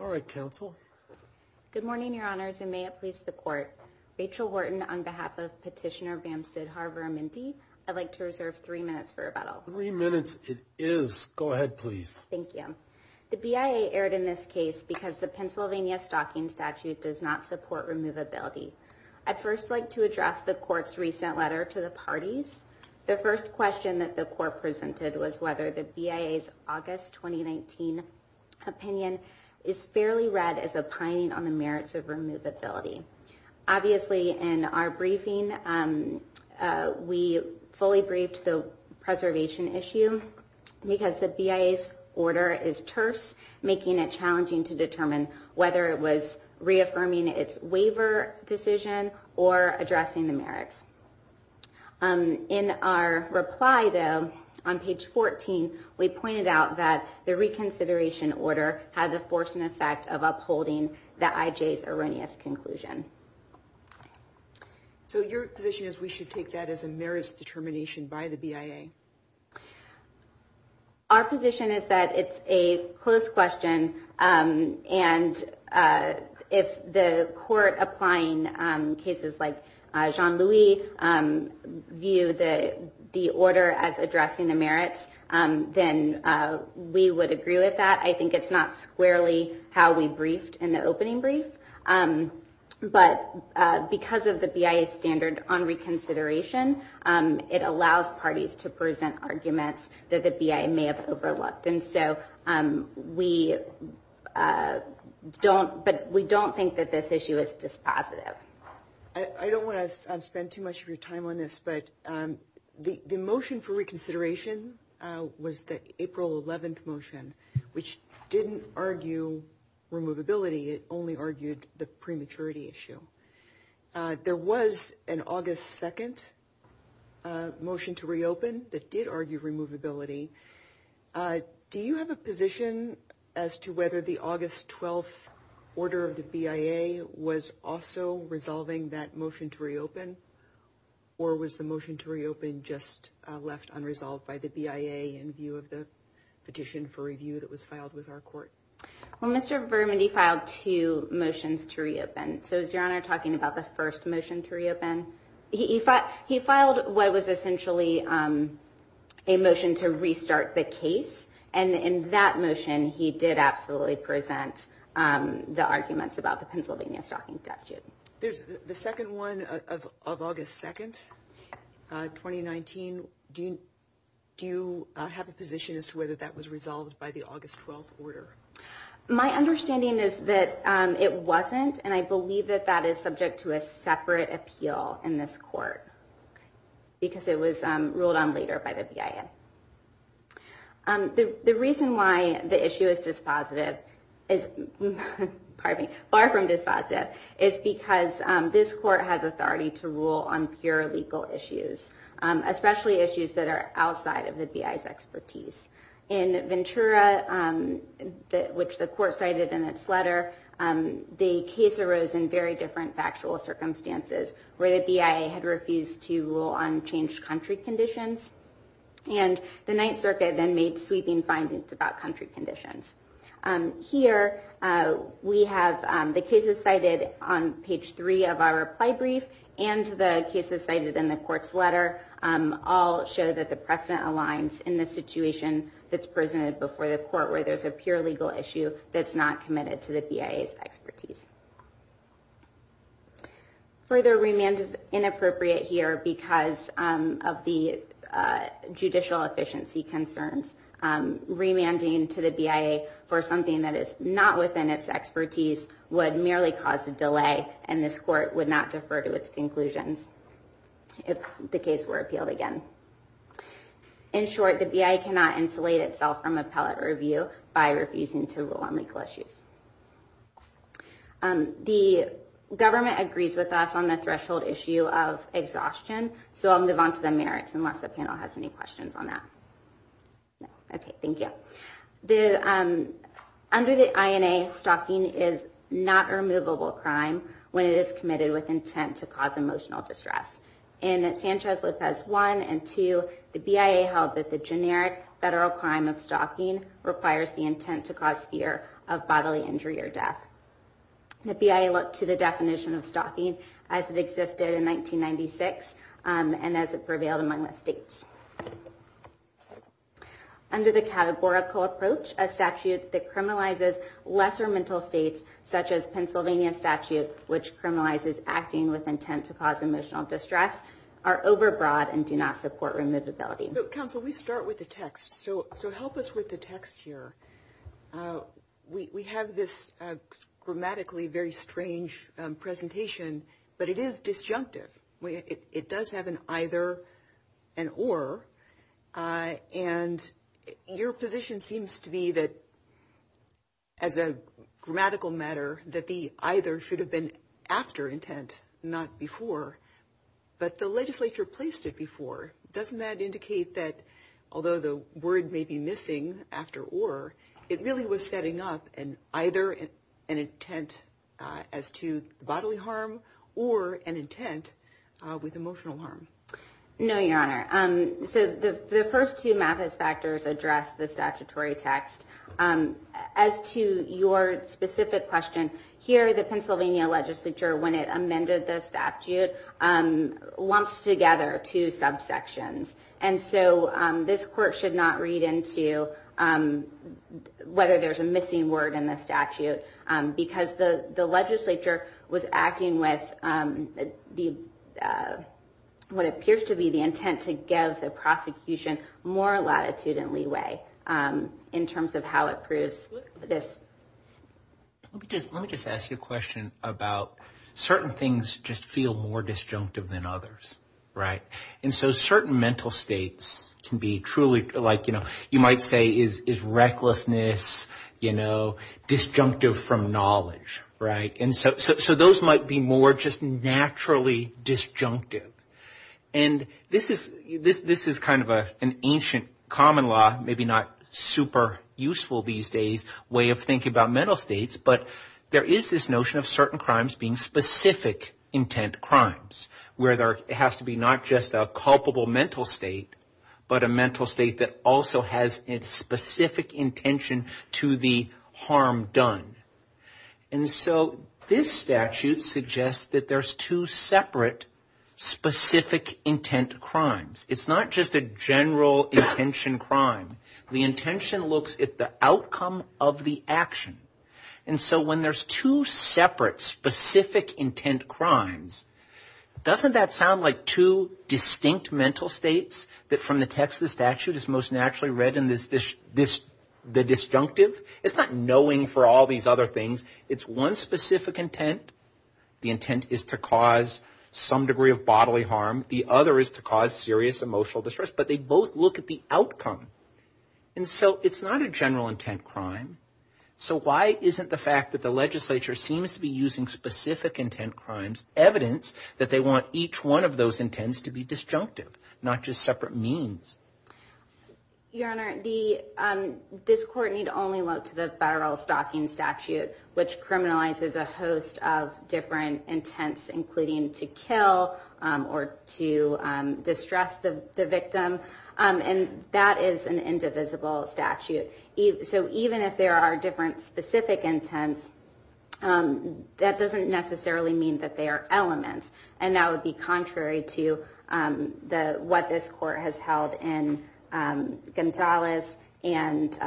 All right, Counsel. Good morning, Your Honors, and may it please the Court. Rachel Wharton on behalf of Petitioner Bam Sidharv Vurimindi, I'd like to reserve three minutes for rebuttal. Three minutes it is. Go ahead, please. Thank you. The BIA erred in this case because the Pennsylvania Stalking Statute does not support removability. I'd first like to address the Court's recent letter to the parties. The first question that the Court presented was whether the BIA's August 2019 opinion is fairly read as opining on the merits of removability. Obviously, in our briefing, we fully briefed the preservation issue because the BIA's order is terse, making it challenging to determine whether it was reaffirming its waiver decision or addressing the merits. In our reply, though, on page 14, we pointed out that the reconsideration order had the force and effect of upholding the IJ's erroneous conclusion. So your position is we should take that as a merits determination by the BIA? Our position is that it's a close question, and if the Court applying cases like Jean-Louis view the order as addressing the merits, then we would agree with that. I think it's not squarely how we briefed in the opening brief, but because of the BIA's standard on reconsideration, it allows parties to present arguments that the BIA may have overlooked. And so we don't think that this issue is dispositive. I don't want to spend too much of your time on this, but the motion for reconsideration was the April 11th motion, which didn't argue removability. It only argued the prematurity issue. There was an August 2nd motion to reopen that did argue removability. Do you have a position as to whether the August 12th order of the BIA was also resolving that motion to reopen? Or was the motion to reopen just left unresolved by the BIA in view of the petition for review that was filed with our Court? Well, Mr. Berman, he filed two motions to reopen. So is Your Honor talking about the first motion to reopen? He filed what was essentially a motion to restart the case. And in that motion, he did absolutely present the arguments about the Pennsylvania Stalking Statute. The second one of August 2nd, 2019, do you have a position as to whether that was resolved by the August 12th order? My understanding is that it wasn't. And I believe that that is subject to a separate appeal in this court because it was ruled on later by the BIA. The reason why the issue is dispositive is, pardon me, far from dispositive, is because this court has authority to rule on pure legal issues, especially issues that are outside of the BIA's expertise. In Ventura, which the court cited in its letter, the case arose in very different factual circumstances where the BIA had refused to rule on changed country conditions. And the Ninth Circuit then made sweeping findings about country conditions. Here we have the cases cited on page three of our reply brief and the cases cited in the court's letter all show that the precedent aligns in the situation that's presented before the court where there's a pure legal issue that's not committed to the BIA's expertise. Further remand is inappropriate here because of the judicial efficiency concerns. Remanding to the BIA for something that is not within its expertise would merely cause a delay and this court would not defer to its conclusions if the case were appealed again. In short, the BIA cannot insulate itself from appellate review by refusing to rule on legal issues. The government agrees with us on the threshold issue of exhaustion, so I'll move on to the merits unless the panel has any questions on that. Okay, thank you. Under the INA, stalking is not a removable crime when it is committed with intent to cause emotional distress. In Sanchez-Lopez 1 and 2, the BIA held that the generic federal crime of stalking requires the intent to cause fear of bodily injury or death. The BIA looked to the definition of stalking as it existed in 1996 and as it prevailed among the states. Under the categorical approach, a statute that criminalizes lesser mental states, such as Pennsylvania statute, which criminalizes acting with intent to cause emotional distress, are overbroad and do not support removability. Counsel, we start with the text, so help us with the text here. We have this grammatically very strange presentation, but it is disjunctive. It does have an either, an or, and your position seems to be that, as a grammatical matter, that the either should have been after intent, not before. But the legislature placed it before. Doesn't that indicate that, although the word may be missing after or, it really was setting up either an intent as to bodily harm or an intent with emotional harm? No, Your Honor. The first two Mathis factors address the statutory text. As to your specific question, here the Pennsylvania legislature, when it amended the statute, lumps together two subsections. And so this court should not read into whether there's a missing word in the statute, because the legislature was acting with what appears to be the intent to give the prosecution more latitude and leeway in terms of how it proves this. Let me just ask you a question about certain things just feel more disjunctive than others, right? And so certain mental states can be truly like, you know, you might say is recklessness, you know, disjunctive from knowledge, right? And so those might be more just naturally disjunctive. And this is kind of an ancient common law, maybe not super useful these days, way of thinking about mental states. But there is this notion of certain crimes being specific intent crimes, where there has to be not just a culpable mental state, but a mental state that also has its specific intention to the harm done. And so this statute suggests that there's two separate specific intent crimes. It's not just a general intention crime. The intention looks at the outcome of the action. And so when there's two separate specific intent crimes, doesn't that sound like two distinct mental states that from the text of the statute is most naturally read in the disjunctive? It's not knowing for all these other things. It's one specific intent. The intent is to cause some degree of bodily harm. The other is to cause serious emotional distress. But they both look at the outcome. And so it's not a general intent crime. So why isn't the fact that the legislature seems to be using specific intent crimes evidence that they want each one of those intents to be disjunctive, not just separate means? Your Honor, this court need only look to the federal stalking statute, which criminalizes a host of different intents, including to kill or to distress the victim. And that is an indivisible statute. So even if there are different specific intents, that doesn't necessarily mean that they are elements. And that would be contrary to what this court has held in Gonzalez and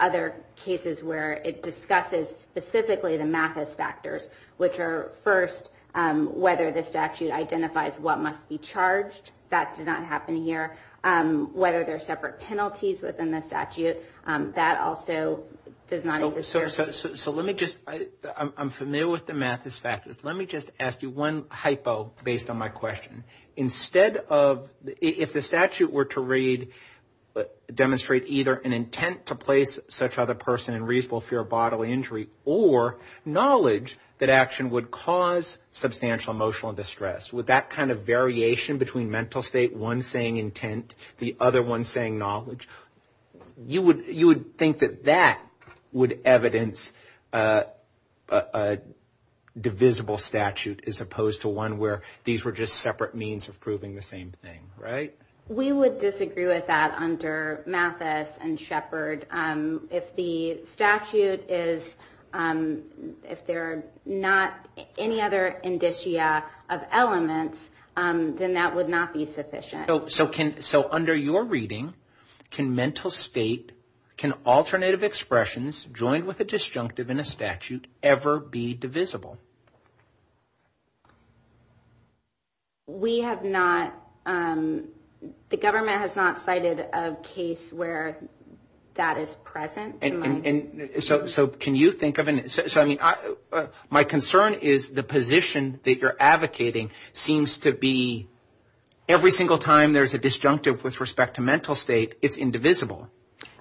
other cases where it discusses specifically the Mathis factors, which are, first, whether the statute identifies what must be charged. That did not happen here. Whether there are separate penalties within the statute, that also does not exist here. So let me just – I'm familiar with the Mathis factors. Let me just ask you one hypo based on my question. Instead of – if the statute were to read – demonstrate either an intent to place such other person in reasonable fear of bodily injury or knowledge that action would cause substantial emotional distress, would that kind of variation between mental state, one saying intent, the other one saying knowledge, you would think that that would evidence a divisible statute as opposed to one where these were just separate means of proving the same thing, right? We would disagree with that under Mathis and Shepard. If the statute is – if there are not any other indicia of elements, then that would not be sufficient. So can – so under your reading, can mental state, can alternative expressions joined with a disjunctive in a statute ever be divisible? We have not – the government has not cited a case where that is present. And so can you think of – so I mean my concern is the position that you're advocating seems to be every single time there's a disjunctive with respect to mental state, it's indivisible.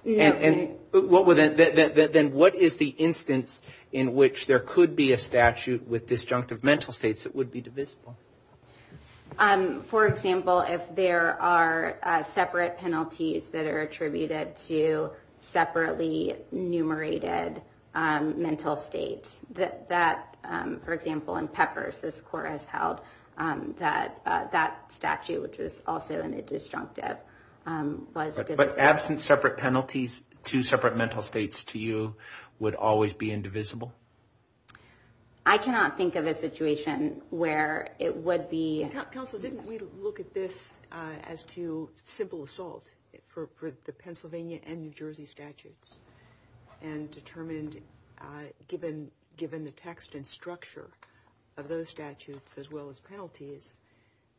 And what would – then what is the instance in which there could be a statute with disjunctive mental states that would be divisible? For example, if there are separate penalties that are attributed to separately enumerated mental states, that – for example, in Peppers, this court has held that that statute, which was also in a disjunctive, was divisible. But absent separate penalties, two separate mental states to you would always be indivisible? I cannot think of a situation where it would be – Counsel, didn't we look at this as to simple assault for the Pennsylvania and New Jersey statutes and determined given the text and structure of those statutes as well as penalties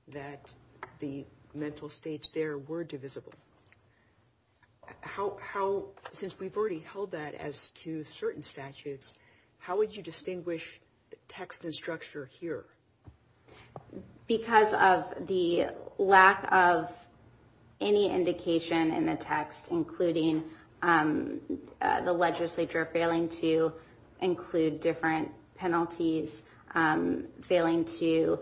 that the mental states there were divisible? How – since we've already held that as to certain statutes, how would you distinguish text and structure here? Because of the lack of any indication in the text, including the legislature failing to include different penalties, failing to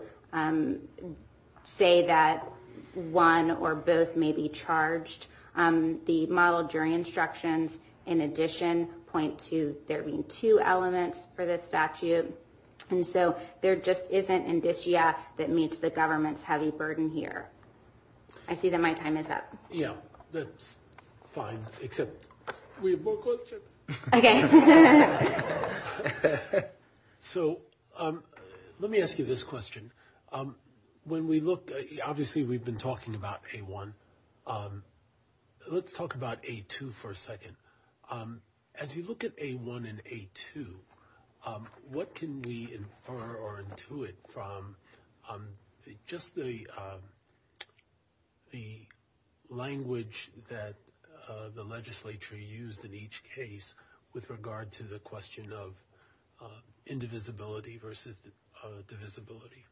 say that one or both may be charged, the model jury instructions in addition point to there being two elements for the statute. And so there just isn't indicia that meets the government's heavy burden here. I see that my time is up. Yeah, that's fine, except we have more questions. Okay. So let me ask you this question. When we look – obviously we've been talking about A1. Let's talk about A2 for a second. As you look at A1 and A2, what can we infer or intuit from just the language that the legislature used in each case with regard to the question of indivisibility versus divisibility?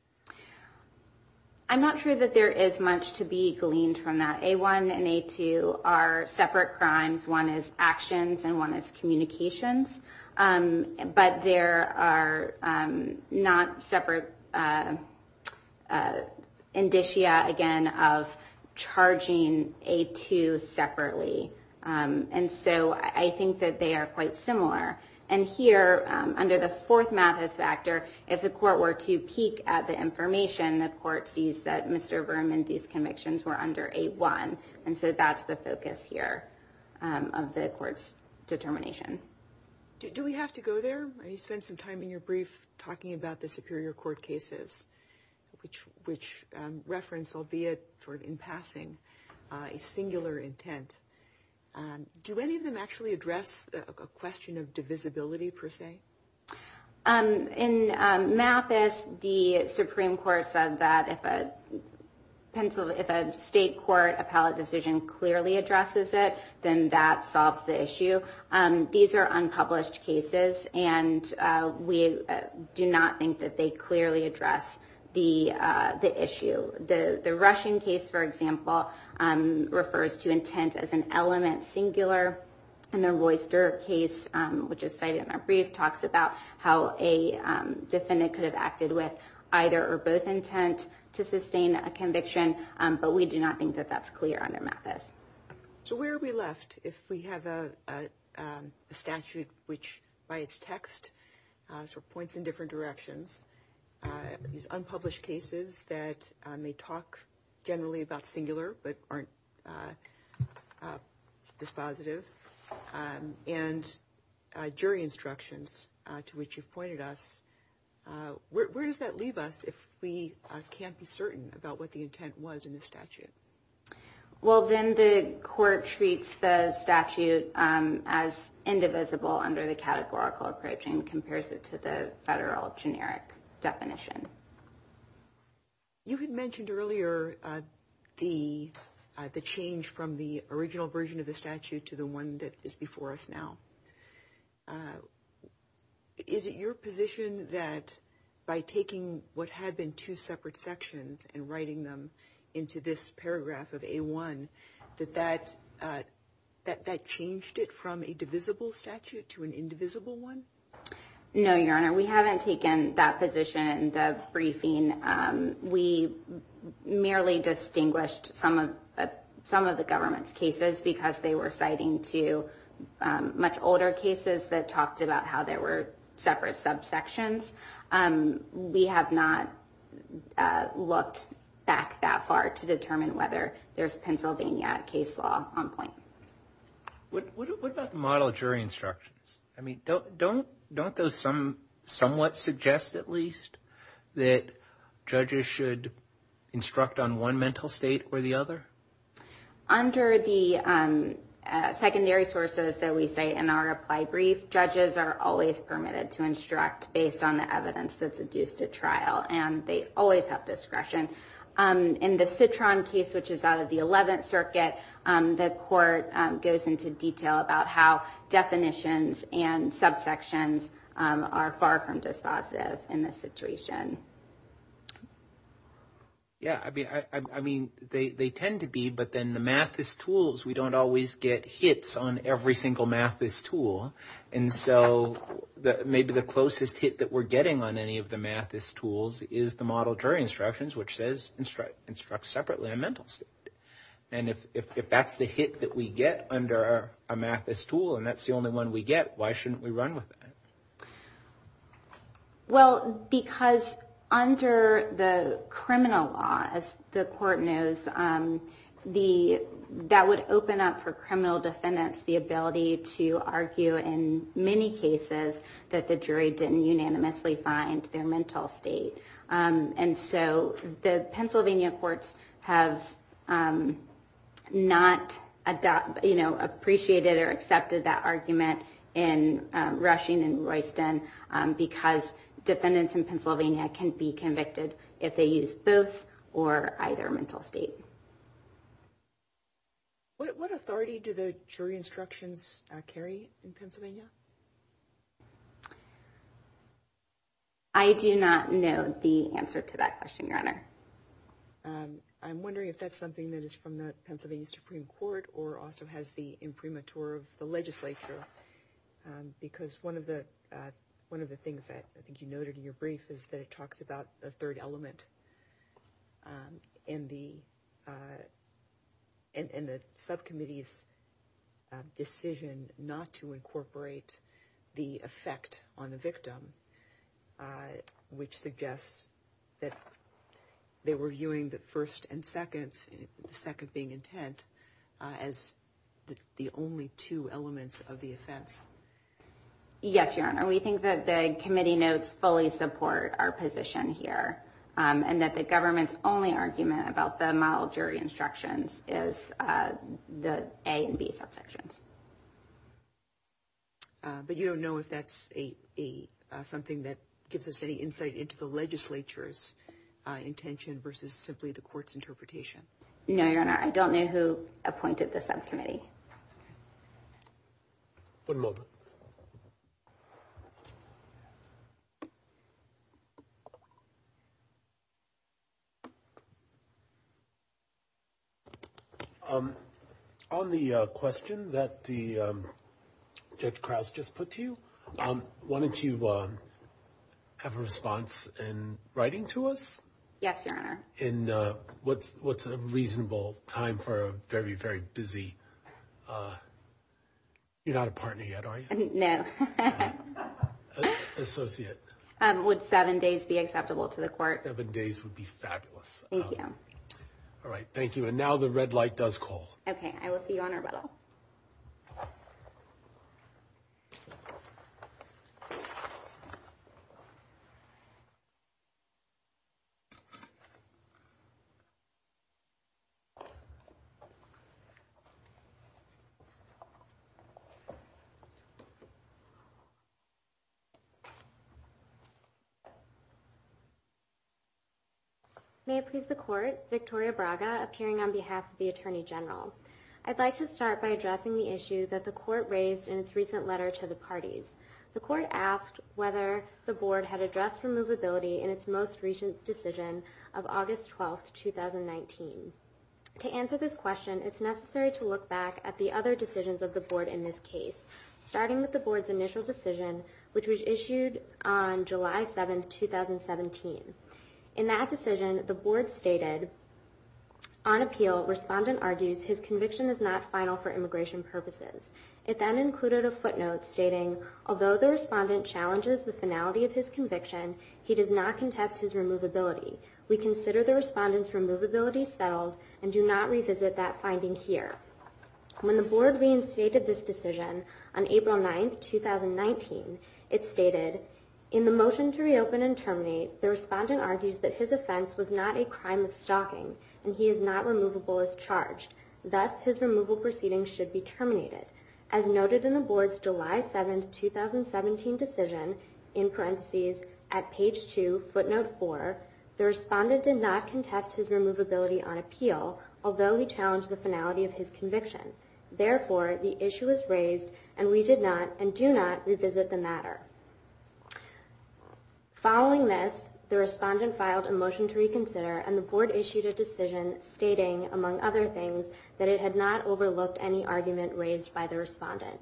I'm not sure that there is much to be gleaned from that. A1 and A2 are separate crimes. One is actions and one is communications. But there are not separate indicia, again, of charging A2 separately. And so I think that they are quite similar. And here, under the fourth Mathis factor, if the court were to peek at the information, the court sees that Mr. Vermondi's convictions were under A1. And so that's the focus here of the court's determination. Do we have to go there? You spent some time in your brief talking about the superior court cases, which reference, albeit in passing, a singular intent. Do any of them actually address a question of divisibility, per se? In Mathis, the Supreme Court said that if a state court appellate decision clearly addresses it, then that solves the issue. These are unpublished cases, and we do not think that they clearly address the issue. The Russian case, for example, refers to intent as an element singular. And the Royster case, which is cited in our brief, talks about how a defendant could have acted with either or both intent to sustain a conviction. But we do not think that that's clear under Mathis. So where are we left if we have a statute which, by its text, points in different directions? These unpublished cases that may talk generally about singular but aren't dispositive, and jury instructions to which you've pointed us, where does that leave us if we can't be certain about what the intent was in the statute? Well, then the court treats the statute as indivisible under the categorical approach and compares it to the federal generic definition. You had mentioned earlier the change from the original version of the statute to the one that is before us now. Is it your position that by taking what had been two separate sections and writing them into this paragraph of A1, that that changed it from a divisible statute to an indivisible one? No, Your Honor. We haven't taken that position in the briefing. We merely distinguished some of the government's cases because they were citing two much older cases that talked about how there were separate subsections. We have not looked back that far to determine whether there's Pennsylvania case law on point. What about the model of jury instructions? I mean, don't those somewhat suggest at least that judges should instruct on one mental state or the other? Under the secondary sources that we say in our applied brief, judges are always permitted to instruct based on the evidence that's adduced at trial, and they always have discretion. In the Citron case, which is out of the 11th Circuit, the court goes into detail about how definitions and subsections are far from dispositive in this situation. Yeah, I mean, they tend to be, but then the Mathis tools, we don't always get hits on every single Mathis tool. And so maybe the closest hit that we're getting on any of the Mathis tools is the model jury instructions, which says instruct separately on mental state. And if that's the hit that we get under a Mathis tool and that's the only one we get, why shouldn't we run with it? Well, because under the criminal law, as the court knows, that would open up for criminal defendants the ability to argue in many cases that the jury didn't unanimously find their mental state. And so the Pennsylvania courts have not appreciated or accepted that argument in Rushing and Royston, because defendants in Pennsylvania can be convicted if they use both or either mental state. What authority do the jury instructions carry in Pennsylvania? I do not know the answer to that question, Your Honor. I'm wondering if that's something that is from the Pennsylvania Supreme Court or also has the imprimatur of the legislature, because one of the one of the things that I think you noted in your brief is that it talks about the third element. And the subcommittee's decision not to incorporate the effect on the victim, which suggests that they were viewing the first and second, the second being intent, as the only two elements of the offense. Yes, Your Honor, we think that the committee notes fully support our position here. And that the government's only argument about the model jury instructions is the A and B subsections. But you don't know if that's something that gives us any insight into the legislature's intention versus simply the court's interpretation? No, Your Honor, I don't know who appointed the subcommittee. One moment. On the question that Judge Krause just put to you, why don't you have a response in writing to us? Yes, Your Honor. In what's a reasonable time for a very, very busy, you're not a partner yet, are you? No. Associate. Would seven days be acceptable to the court? Seven days would be fabulous. Thank you. All right, thank you. And now the red light does call. Okay, I will see you on rebuttal. May it please the court, Victoria Braga, appearing on behalf of the Attorney General. I'd like to start by addressing the issue that the court raised in its recent letter to the parties. The court asked whether the board had addressed removability in its most recent decision of August 12, 2019. To answer this question, it's necessary to look back at the other decisions of the board in this case, starting with the board's initial decision, which was issued on July 7, 2017. In that decision, the board stated, On appeal, respondent argues his conviction is not final for immigration purposes. It then included a footnote stating, Although the respondent challenges the finality of his conviction, he does not contest his removability. We consider the respondent's removability settled and do not revisit that finding here. When the board reinstated this decision on April 9, 2019, it stated, In the motion to reopen and terminate, the respondent argues that his offense was not a crime of stalking, and he is not removable as charged. Thus, his removal proceedings should be terminated. As noted in the board's July 7, 2017 decision, in parentheses, at page 2, footnote 4, the respondent did not contest his removability on appeal, although he challenged the finality of his conviction. Therefore, the issue is raised, and we did not and do not revisit the matter. Following this, the respondent filed a motion to reconsider, and the board issued a decision stating, among other things, that it had not overlooked any argument raised by the respondent.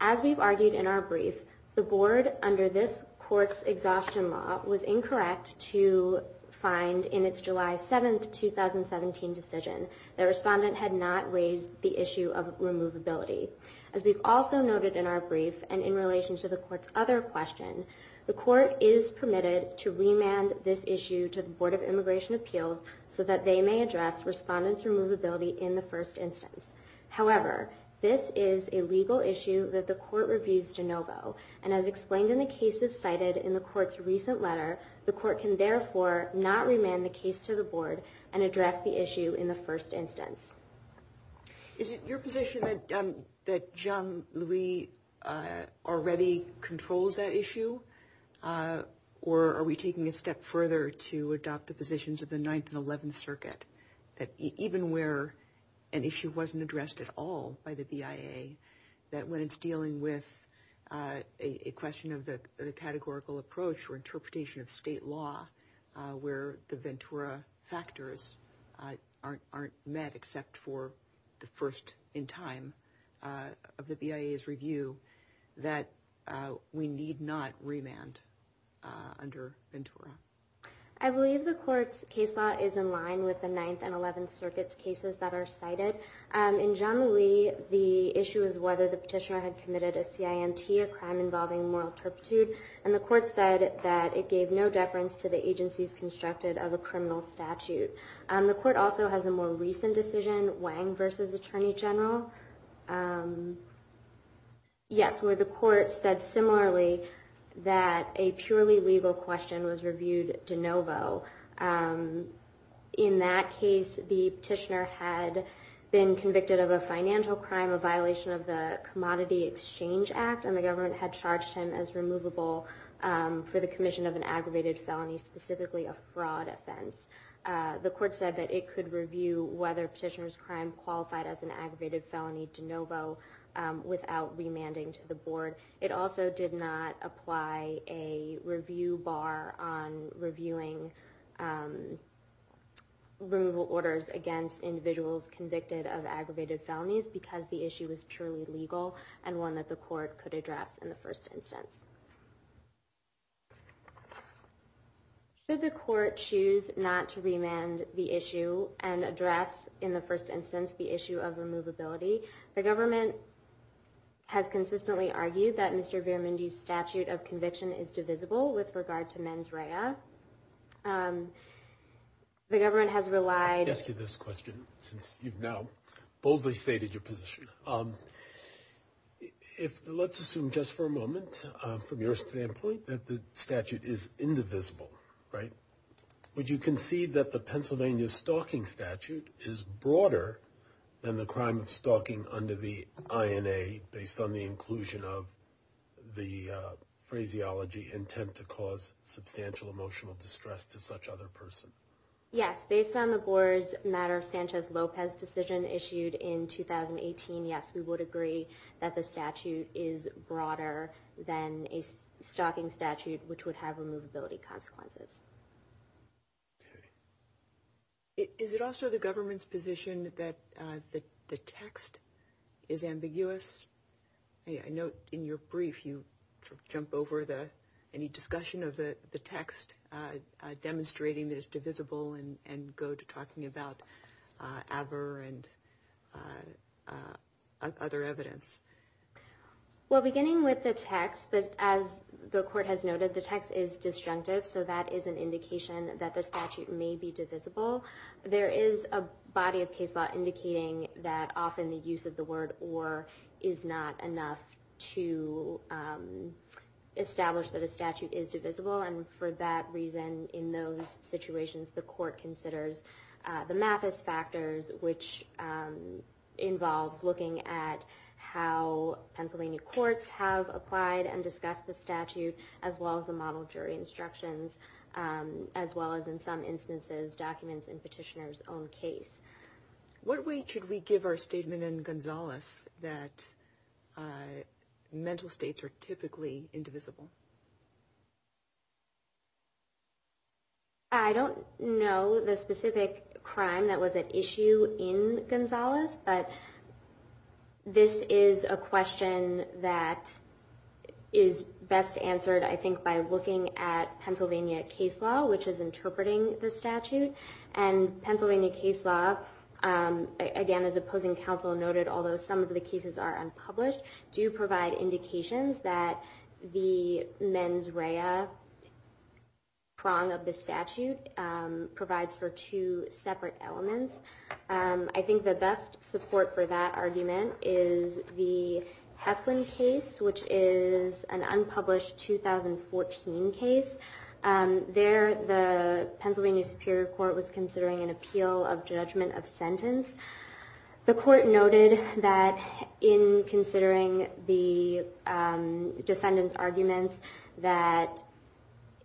As we've argued in our brief, the board, under this court's exhaustion law, was incorrect to find, in its July 7, 2017 decision, that a respondent had not raised the issue of removability. As we've also noted in our brief, and in relation to the court's other question, the court is permitted to remand this issue to the Board of Immigration Appeals so that they may address respondent's removability in the first instance. However, this is a legal issue that the court reviews de novo, and as explained in the cases cited in the court's recent letter, the court can therefore not remand the case to the board and address the issue in the first instance. Is it your position that Jean-Louis already controls that issue, or are we taking it a step further to adopt the positions of the 9th and 11th Circuit, that even where an issue wasn't addressed at all by the BIA, that when it's dealing with a question of the categorical approach or interpretation of state law, where the Ventura factors aren't met except for the first in time of the BIA's review, that we need not remand under Ventura? I believe the court's case law is in line with the 9th and 11th Circuit's cases that are cited. In Jean-Louis, the issue is whether the petitioner had committed a CIMT, a crime involving moral turpitude, and the court said that it gave no deference to the agencies constructed of a criminal statute. The court also has a more recent decision, Wang v. Attorney General, where the court said similarly that a purely legal question was reviewed de novo. In that case, the petitioner had been convicted of a financial crime, a violation of the Commodity Exchange Act, and the government had charged him as removable for the commission of an aggravated felony, specifically a fraud offense. The court said that it could review whether petitioner's crime qualified as an aggravated felony de novo without remanding to the board. It also did not apply a review bar on reviewing removal orders against individuals convicted of aggravated felonies because the issue was purely legal and one that the court could address in the first instance. Should the court choose not to remand the issue and address in the first instance the issue of removability? The government has consistently argued that Mr. Viramundi's statute of conviction is divisible with regard to mens rea. The government has relied... Let me ask you this question since you've now boldly stated your position. Let's assume just for a moment, from your standpoint, that the statute is indivisible, right? Would you concede that the Pennsylvania Stalking Statute is broader than the crime of stalking under the INA based on the inclusion of the phraseology intent to cause substantial emotional distress to such other person? Yes, based on the board's matter of Sanchez-Lopez decision issued in 2018, yes, we would agree that the statute is broader than a stalking statute which would have removability consequences. Is it also the government's position that the text is ambiguous? I note in your brief you jump over any discussion of the text demonstrating that it's divisible and go to talking about AVER and other evidence. Well, beginning with the text, as the court has noted, the text is disjunctive so that is an indication that the statute may be divisible. There is a body of case law indicating that often the use of the word or is not enough to establish that a statute is divisible and for that reason, in those situations, the court considers the math as factors which involves looking at how Pennsylvania courts have applied and discussed the statute as well as the model jury instructions as well as in some instances documents in petitioner's own case. What weight should we give our statement in Gonzalez that mental states are typically indivisible? I don't know the specific crime that was at issue in Gonzalez but this is a question that is best answered, I think, by looking at Pennsylvania case law which is interpreting the statute and Pennsylvania case law, again, as opposing counsel noted although some of the cases are unpublished, do provide indications that the mens rea prong of the statute provides for two separate elements. I think the best support for that argument is the Heflin case which is an unpublished 2014 case. There, the Pennsylvania Superior Court was considering an appeal of judgment of sentence. The court noted that in considering the defendant's arguments that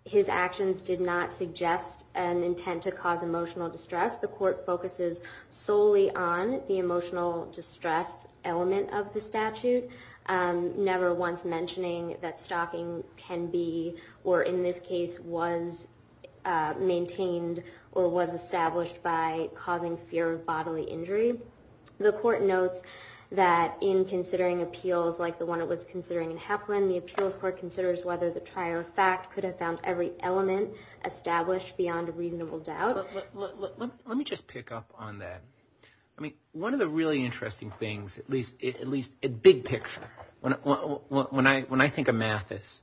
his actions did not suggest an intent to cause emotional distress. The court focuses solely on the emotional distress element of the statute never once mentioning that stalking can be or in this case was maintained or was established by causing fear of bodily injury. The court notes that in considering appeals like the one it was considering in Heflin the appeals court considers whether the prior fact could have found every element established beyond a reasonable doubt. Let me just pick up on that. I mean, one of the really interesting things, at least in big picture, when I think of Mathis,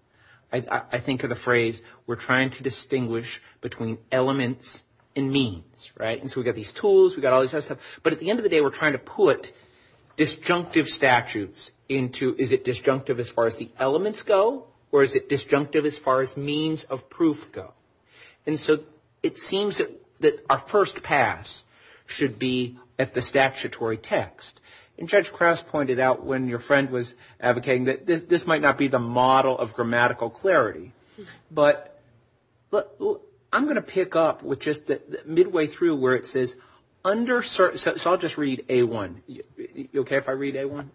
I think of the phrase, we're trying to distinguish between elements and means, right? And so we've got these tools, we've got all this other stuff, but at the end of the day we're trying to put disjunctive statutes into, is it disjunctive as far as the elements go or is it disjunctive as far as means of proof go? And so it seems that our first pass should be at the statutory text. And Judge Krauss pointed out when your friend was advocating that this might not be the model of grammatical clarity. But I'm going to pick up with just midway through where it says under certain, so I'll just read A1. You okay if I read A1?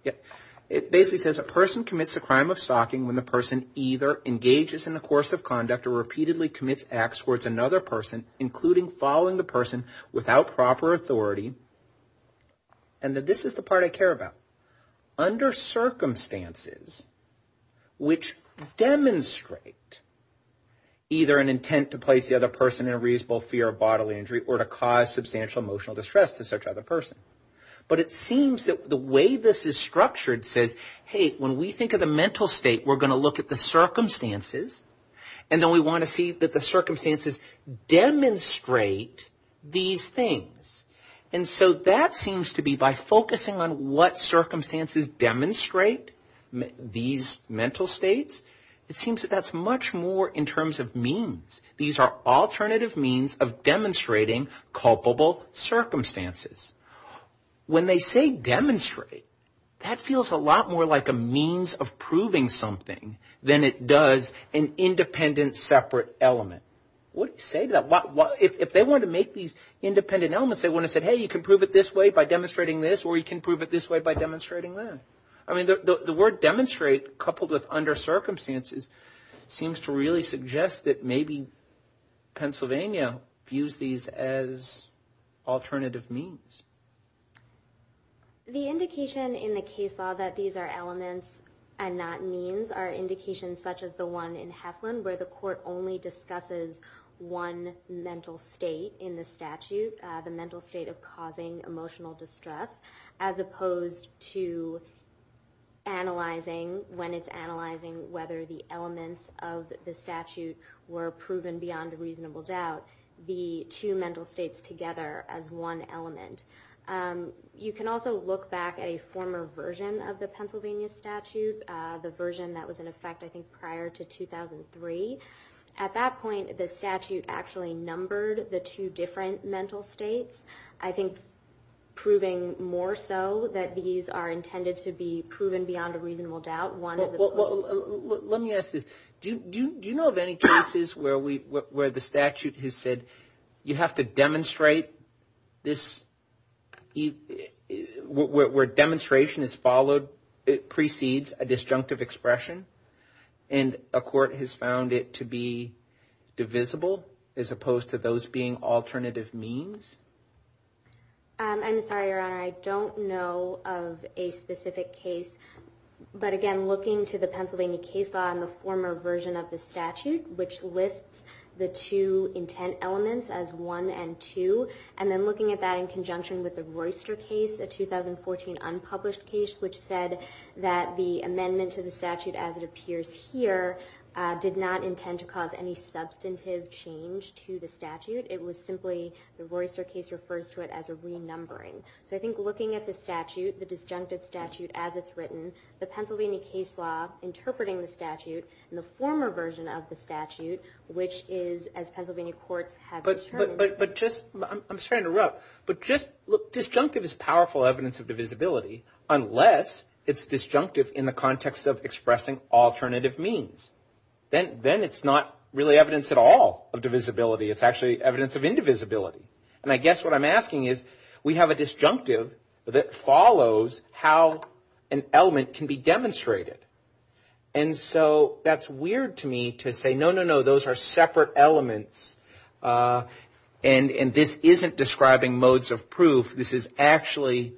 It basically says a person commits the crime of stalking when the person either engages in the course of conduct or repeatedly commits acts towards another person, including following the person without proper authority. And this is the part I care about. Under circumstances which demonstrate either an intent to place the other person in a reasonable fear of bodily injury or to cause substantial emotional distress to such other person. But it seems that the way this is structured says, hey, when we think of the mental state, we're going to look at the circumstances and then we want to see that the circumstances demonstrate these things. And so that seems to be by focusing on what circumstances demonstrate these mental states, it seems that that's much more in terms of means. These are alternative means of demonstrating culpable circumstances. When they say demonstrate, that feels a lot more like a means of proving something than it does an independent separate element. What do you say to that? If they want to make these independent elements, they want to say, hey, you can prove it this way by demonstrating this or you can prove it this way by demonstrating that. I mean, the word demonstrate coupled with under circumstances seems to really suggest that maybe Pennsylvania views these as alternative means. The indication in the case law that these are elements and not means are indications such as the one in Heflin where the court only discusses one mental state in the statute, the mental state of causing emotional distress, as opposed to analyzing, when it's analyzing whether the elements of the statute were proven beyond a reasonable doubt, the two mental states together as one element. You can also look back at a former version of the Pennsylvania statute, the version that was in effect, I think, prior to 2003. At that point, the statute actually numbered the two different mental states, I think proving more so that these are intended to be proven beyond a reasonable doubt. Well, let me ask this. Do you know of any cases where the statute has said you have to demonstrate this, where demonstration is followed, it precedes a disjunctive expression, and a court has found it to be divisible as opposed to those being alternative means? I'm sorry, Your Honor. I don't know of a specific case. But again, looking to the Pennsylvania case law and the former version of the statute, which lists the two intent elements as one and two, and then looking at that in conjunction with the Royster case, a 2014 unpublished case, which said that the amendment to the statute as it appears here did not intend to cause any substantive change to the statute. It was simply the Royster case refers to it as a renumbering. So I think looking at the statute, the disjunctive statute as it's written, the Pennsylvania case law interpreting the statute, and the former version of the statute, which is, as Pennsylvania courts have determined. But just, I'm sorry to interrupt, but just look, disjunctive is powerful evidence of divisibility unless it's disjunctive in the context of expressing alternative means. Then it's not really evidence at all of divisibility. It's actually evidence of indivisibility. And I guess what I'm asking is, we have a disjunctive that follows how an element can be demonstrated. And so that's weird to me to say, no, no, no, those are separate elements, and this isn't describing modes of proof. This is actually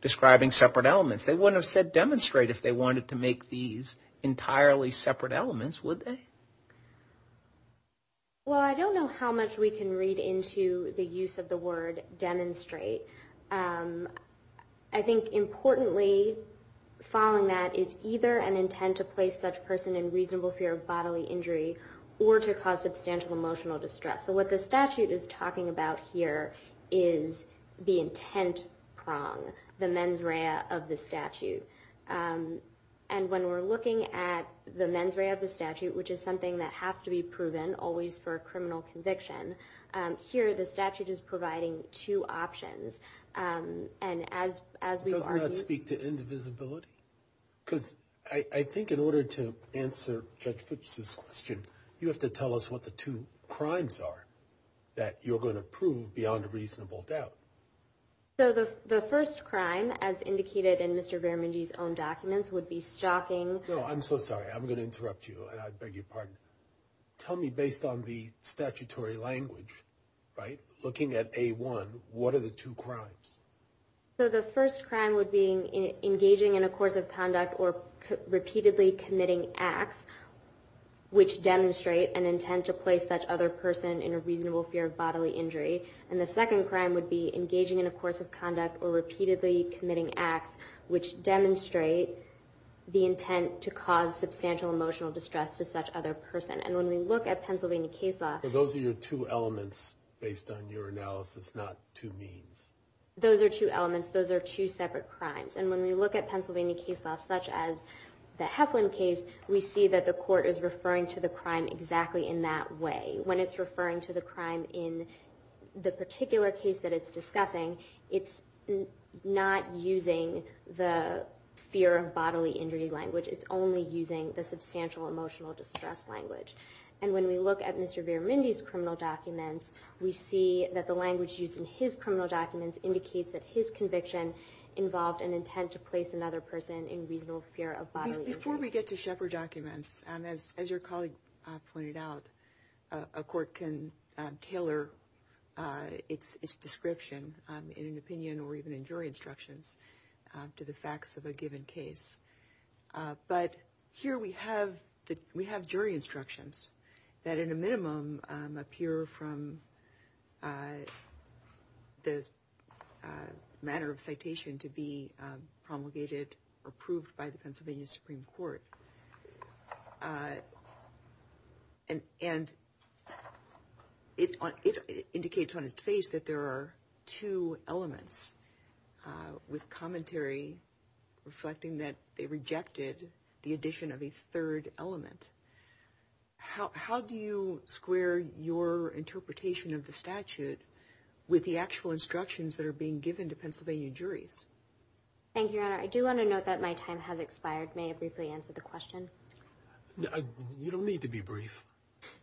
describing separate elements. They wouldn't have said demonstrate if they wanted to make these entirely separate elements, would they? Well, I don't know how much we can read into the use of the word demonstrate. I think, importantly, following that, it's either an intent to place such person in reasonable fear of bodily injury or to cause substantial emotional distress. So what the statute is talking about here is the intent prong, the mens rea of the statute. And when we're looking at the mens rea of the statute, which is something that has to be proven always for a criminal conviction, here the statute is providing two options. And as we've argued- Does that speak to indivisibility? Because I think in order to answer Judge Fuchs's question, you have to tell us what the two crimes are that you're going to prove beyond a reasonable doubt. So the first crime, as indicated in Mr. Veramangi's own documents, would be stalking- No, I'm so sorry. I'm going to interrupt you, and I beg your pardon. Tell me, based on the statutory language, right, looking at A1, what are the two crimes? So the first crime would be engaging in a course of conduct or repeatedly committing acts, which demonstrate an intent to place such other person in a reasonable fear of bodily injury. And the second crime would be engaging in a course of conduct or repeatedly committing acts, which demonstrate the intent to cause substantial emotional distress to such other person. And when we look at Pennsylvania case law- Those are your two elements based on your analysis, not two means. Those are two elements. Those are two separate crimes. And when we look at Pennsylvania case law, such as the Heflin case, we see that the court is referring to the crime exactly in that way. When it's referring to the crime in the particular case that it's discussing, it's not using the fear of bodily injury language. It's only using the substantial emotional distress language. And when we look at Mr. Viramindi's criminal documents, we see that the language used in his criminal documents indicates that his conviction involved an intent to place another person in reasonable fear of bodily injury. Before we get to Shepard documents, as your colleague pointed out, a court can tailor its description in an opinion or even in jury instructions to the facts of a given case. But here we have jury instructions that, in a minimum, appear from the manner of citation to be promulgated or proved by the Pennsylvania Supreme Court. And it indicates on its face that there are two elements with commentary reflecting that they rejected the addition of a third element. How do you square your interpretation of the statute with the actual instructions that are being given to Pennsylvania juries? Thank you, Your Honor. I do want to note that my time has expired. May I briefly answer the question? You don't need to be brief.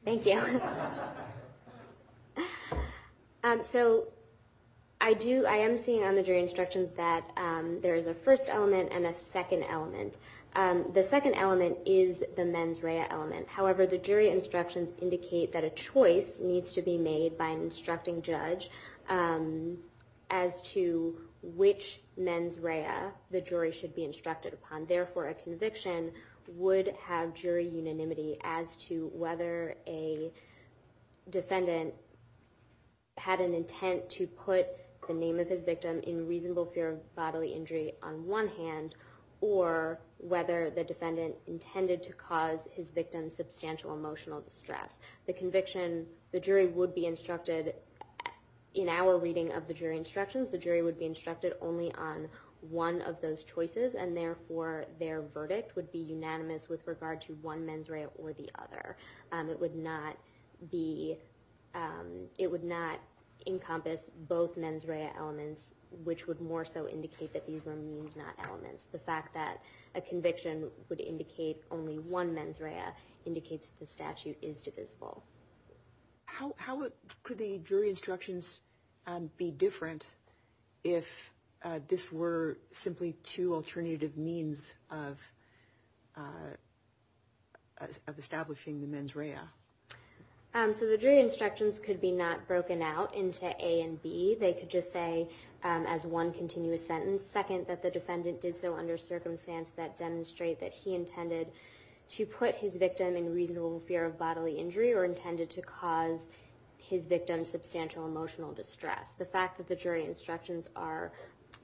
Thank you. So I am seeing on the jury instructions that there is a first element and a second element. The second element is the mens rea element. However, the jury instructions indicate that a choice needs to be made by an instructing judge as to which mens rea the jury should be instructed upon. Therefore, a conviction would have jury unanimity as to whether a defendant had an intent to put the name of his victim in reasonable fear of bodily injury on one hand or whether the defendant intended to cause his victim substantial emotional distress. The conviction, the jury would be instructed, in our reading of the jury instructions, the jury would be instructed only on one of those choices and therefore their verdict would be unanimous with regard to one mens rea or the other. It would not encompass both mens rea elements, which would more so indicate that these were means not elements. The fact that a conviction would indicate only one mens rea indicates that the statute is divisible. How could the jury instructions be different if this were simply two alternative means of establishing the mens rea? So the jury instructions could be not broken out into A and B. They could just say as one continuous sentence, second that the defendant did so under circumstance that demonstrate that he intended to put his victim in reasonable fear of bodily injury or intended to cause his victim substantial emotional distress. The fact that the jury instructions are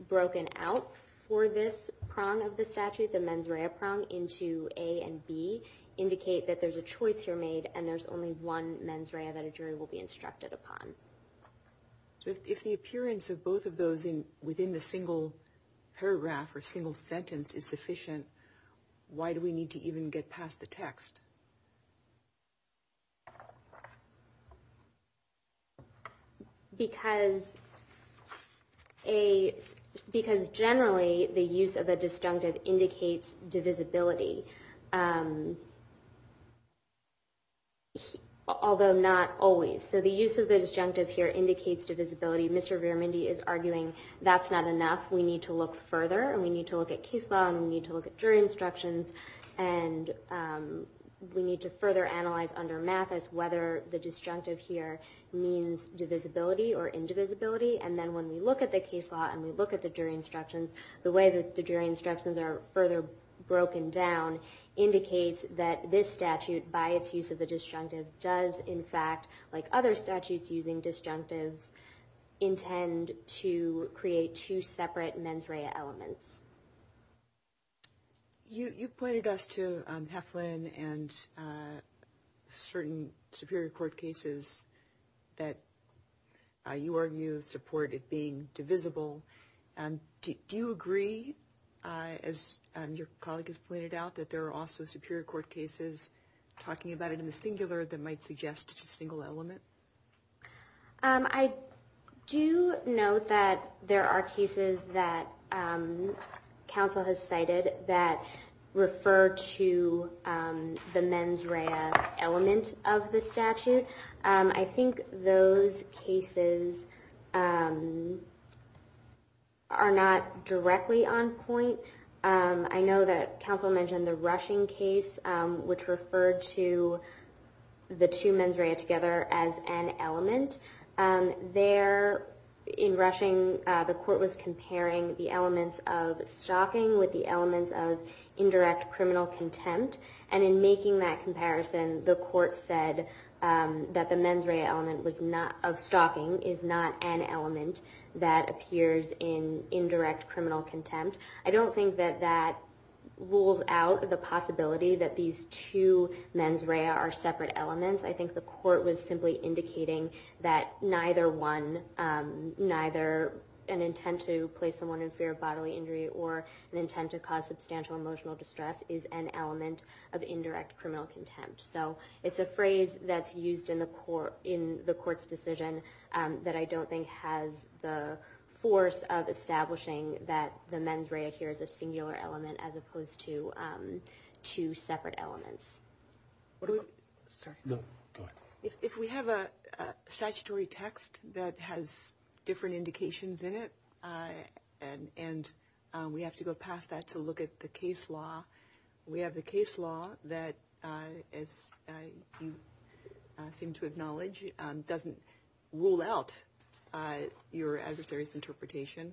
broken out for this prong of the statute, the mens rea prong, into A and B indicate that there's a choice here made and there's only one mens rea that a jury will be instructed upon. So if the appearance of both of those within the single paragraph or single sentence is sufficient, why do we need to even get past the text? Because generally the use of the disjunctive indicates divisibility, although not always. So the use of the disjunctive here indicates divisibility. Mr. Veramundi is arguing that's not enough. We need to look further and we need to look at case law and we need to look at jury instructions and we need to further analyze under math as whether the disjunctive here means divisibility or indivisibility. And then when we look at the case law and we look at the jury instructions, the way that the jury instructions are further broken down indicates that this statute, by its use of the disjunctive, does in fact, like other statutes using disjunctives, intend to create two separate mens rea elements. You pointed us to Heflin and certain Superior Court cases that you argue support it being divisible. Do you agree, as your colleague has pointed out, that there are also Superior Court cases talking about it in the singular that might suggest it's a single element? I do note that there are cases that counsel has cited that refer to the mens rea element of the statute. I think those cases are not directly on point. I know that counsel mentioned the Rushing case, which referred to the two mens rea together as an element. There, in Rushing, the court was comparing the elements of stalking with the elements of indirect criminal contempt. And in making that comparison, the court said that the mens rea element of stalking is not an element that appears in indirect criminal contempt. I don't think that that rules out the possibility that these two mens rea are separate elements. I think the court was simply indicating that neither an intent to place someone in fear of bodily injury or an intent to cause substantial emotional distress is an element of indirect criminal contempt. It's a phrase that's used in the court's decision that I don't think has the force of establishing that the mens rea here is a singular element as opposed to two separate elements. If we have a statutory text that has different indications in it and we have to go past that to look at the case law, we have the case law that, as you seem to acknowledge, doesn't rule out your adversary's interpretation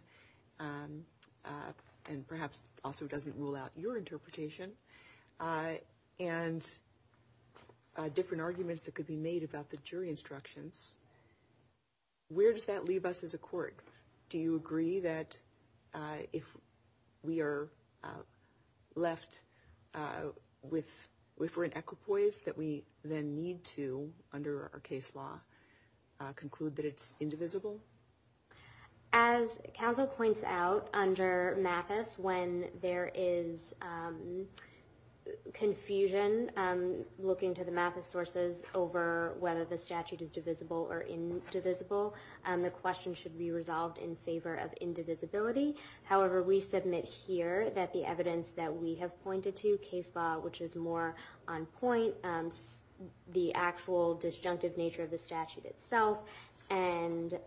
and perhaps also doesn't rule out your interpretation, and different arguments that could be made about the jury instructions, where does that leave us as a court? Do you agree that if we're in equipoise that we then need to, under our case law, conclude that it's indivisible? As counsel points out, under Mathis, when there is confusion looking to the Mathis sources over whether the statute is divisible or indivisible, the question should be resolved in favor of indivisibility. However, we submit here that the evidence that we have pointed to, case law, which is more on point, the actual disjunctive nature of the statute itself and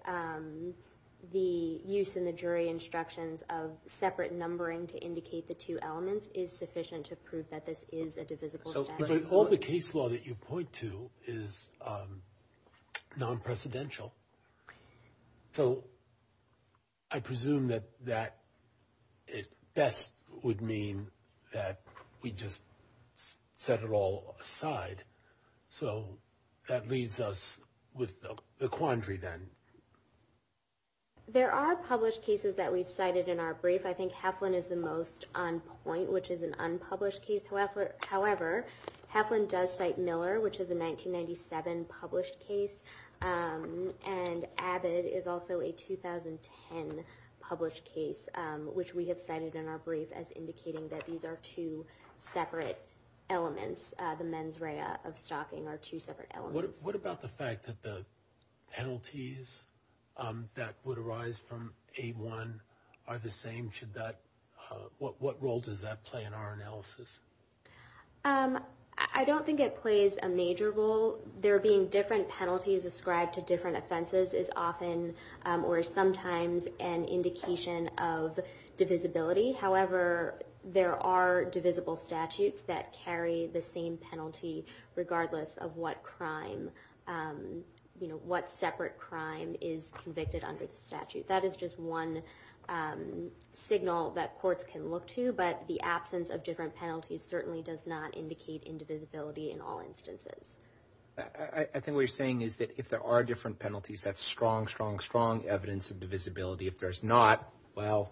the use in the jury instructions of separate numbering to indicate the two elements is sufficient to prove that this is a divisible statute. But all the case law that you point to is non-precedential. So I presume that that at best would mean that we just set it all aside. So that leaves us with the quandary then. There are published cases that we've cited in our brief. I think Heflin is the most on point, which is an unpublished case. However, Heflin does cite Miller, which is a 1997 published case. And Abbott is also a 2010 published case, which we have cited in our brief as indicating that these are two separate elements. The mens rea of stalking are two separate elements. What about the fact that the penalties that would arise from A1 are the same? What role does that play in our analysis? I don't think it plays a major role. There being different penalties ascribed to different offenses is often or sometimes an indication of divisibility. However, there are divisible statutes that carry the same penalty regardless of what separate crime is convicted under the statute. That is just one signal that courts can look to. But the absence of different penalties certainly does not indicate indivisibility in all instances. I think what you're saying is that if there are different penalties, that's strong, strong, strong evidence of divisibility. If there's not, well,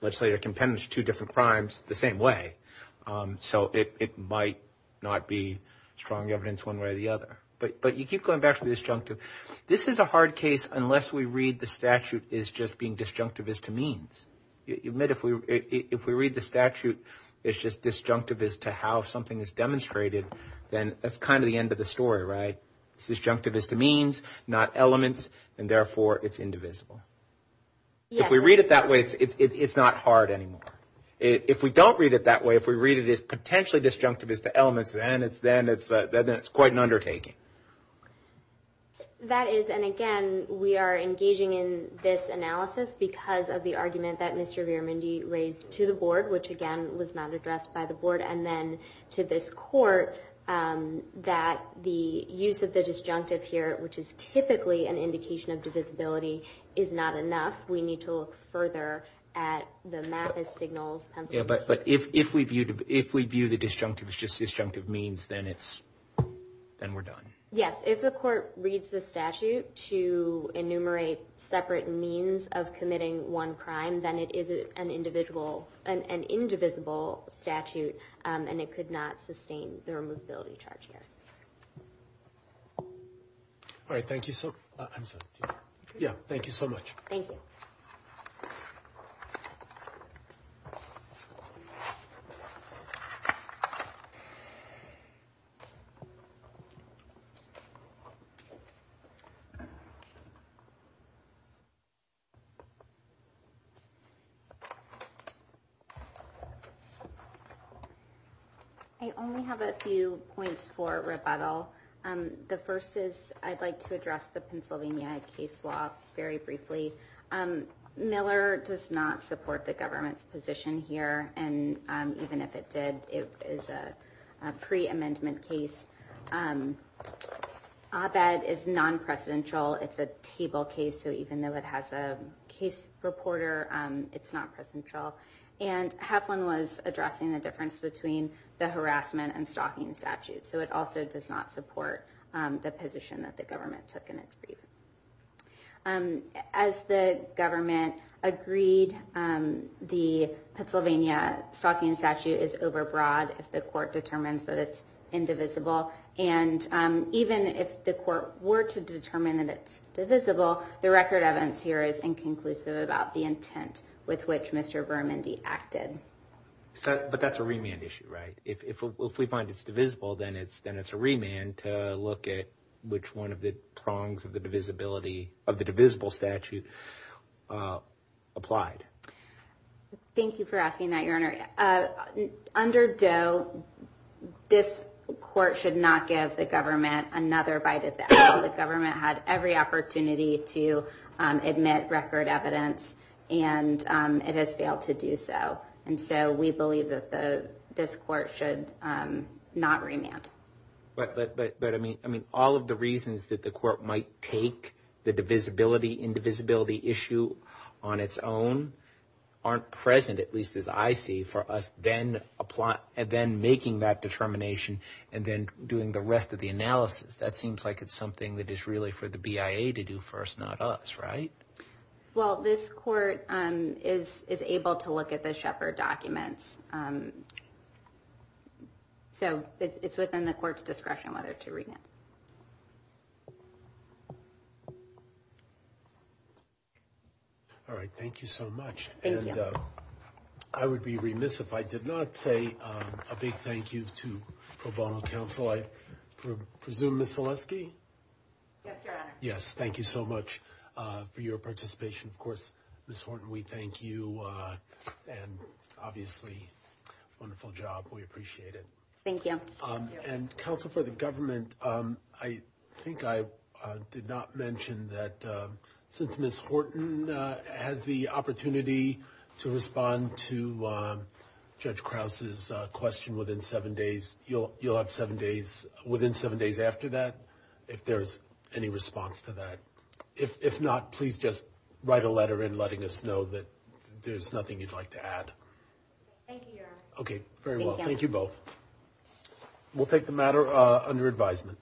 legislator can penalize two different crimes the same way. So it might not be strong evidence one way or the other. But you keep going back to disjunctive. This is a hard case unless we read the statute as just being disjunctive as to means. If we read the statute as just disjunctive as to how something is demonstrated, then that's kind of the end of the story, right? It's disjunctive as to means, not elements, and therefore it's indivisible. If we read it that way, it's not hard anymore. If we don't read it that way, if we read it as potentially disjunctive as to elements, then it's quite an undertaking. That is, and again, we are engaging in this analysis because of the argument that Mr. Veeramundi raised to the board, which again was not addressed by the board, and then to this court, that the use of the disjunctive here, which is typically an indication of divisibility, is not enough. We need to look further at the math as signals. Yeah, but if we view the disjunctive as just disjunctive means, then we're done. Yes, if the court reads the statute to enumerate separate means of committing one crime, then it is an indivisible statute and it could not sustain the removability charge here. All right, thank you so much. Yeah, thank you so much. Thank you. I only have a few points for rebuttal. The first is I'd like to address the Pennsylvania case law very briefly. Miller does not support the government's position here, and even if it did, it is a pre-amendment case. Abed is non-presidential. It's a table case, so even though it has a case reporter, it's not presidential. And Heflin was addressing the difference between the harassment and stalking statute, so it also does not support the position that the government took in its brief. As the government agreed, the Pennsylvania stalking statute is overbroad if the court determines that it's indivisible. And even if the court were to determine that it's divisible, the record evidence here is inconclusive about the intent with which Mr. Bermondi acted. But that's a remand issue, right? If we find it's divisible, then it's a remand to look at which one of the prongs of the divisible statute applied. Thank you for asking that, Your Honor. Under Doe, this court should not give the government another bite of the apple. The government had every opportunity to admit record evidence, and it has failed to do so. And so we believe that this court should not remand. But, I mean, all of the reasons that the court might take the divisibility, indivisibility issue on its own aren't present, at least as I see, for us then making that determination and then doing the rest of the analysis. That seems like it's something that is really for the BIA to do first, not us, right? Well, this court is able to look at the Shepard documents. So it's within the court's discretion whether to remand. All right. Thank you so much. Thank you. I would be remiss if I did not say a big thank you to pro bono counsel. I presume, Ms. Zaleski? Yes, Your Honor. Yes, thank you so much for your participation. Of course, Ms. Horton, we thank you. And obviously, wonderful job. We appreciate it. Thank you. And counsel for the government, I think I did not mention that since Ms. Horton has the opportunity to respond to Judge Krause's question within seven days, you'll have seven days, within seven days after that, if there's any response to that. If not, please just write a letter in letting us know that there's nothing you'd like to add. Thank you, Your Honor. Okay, very well. Thank you both. We'll take the matter under advisement.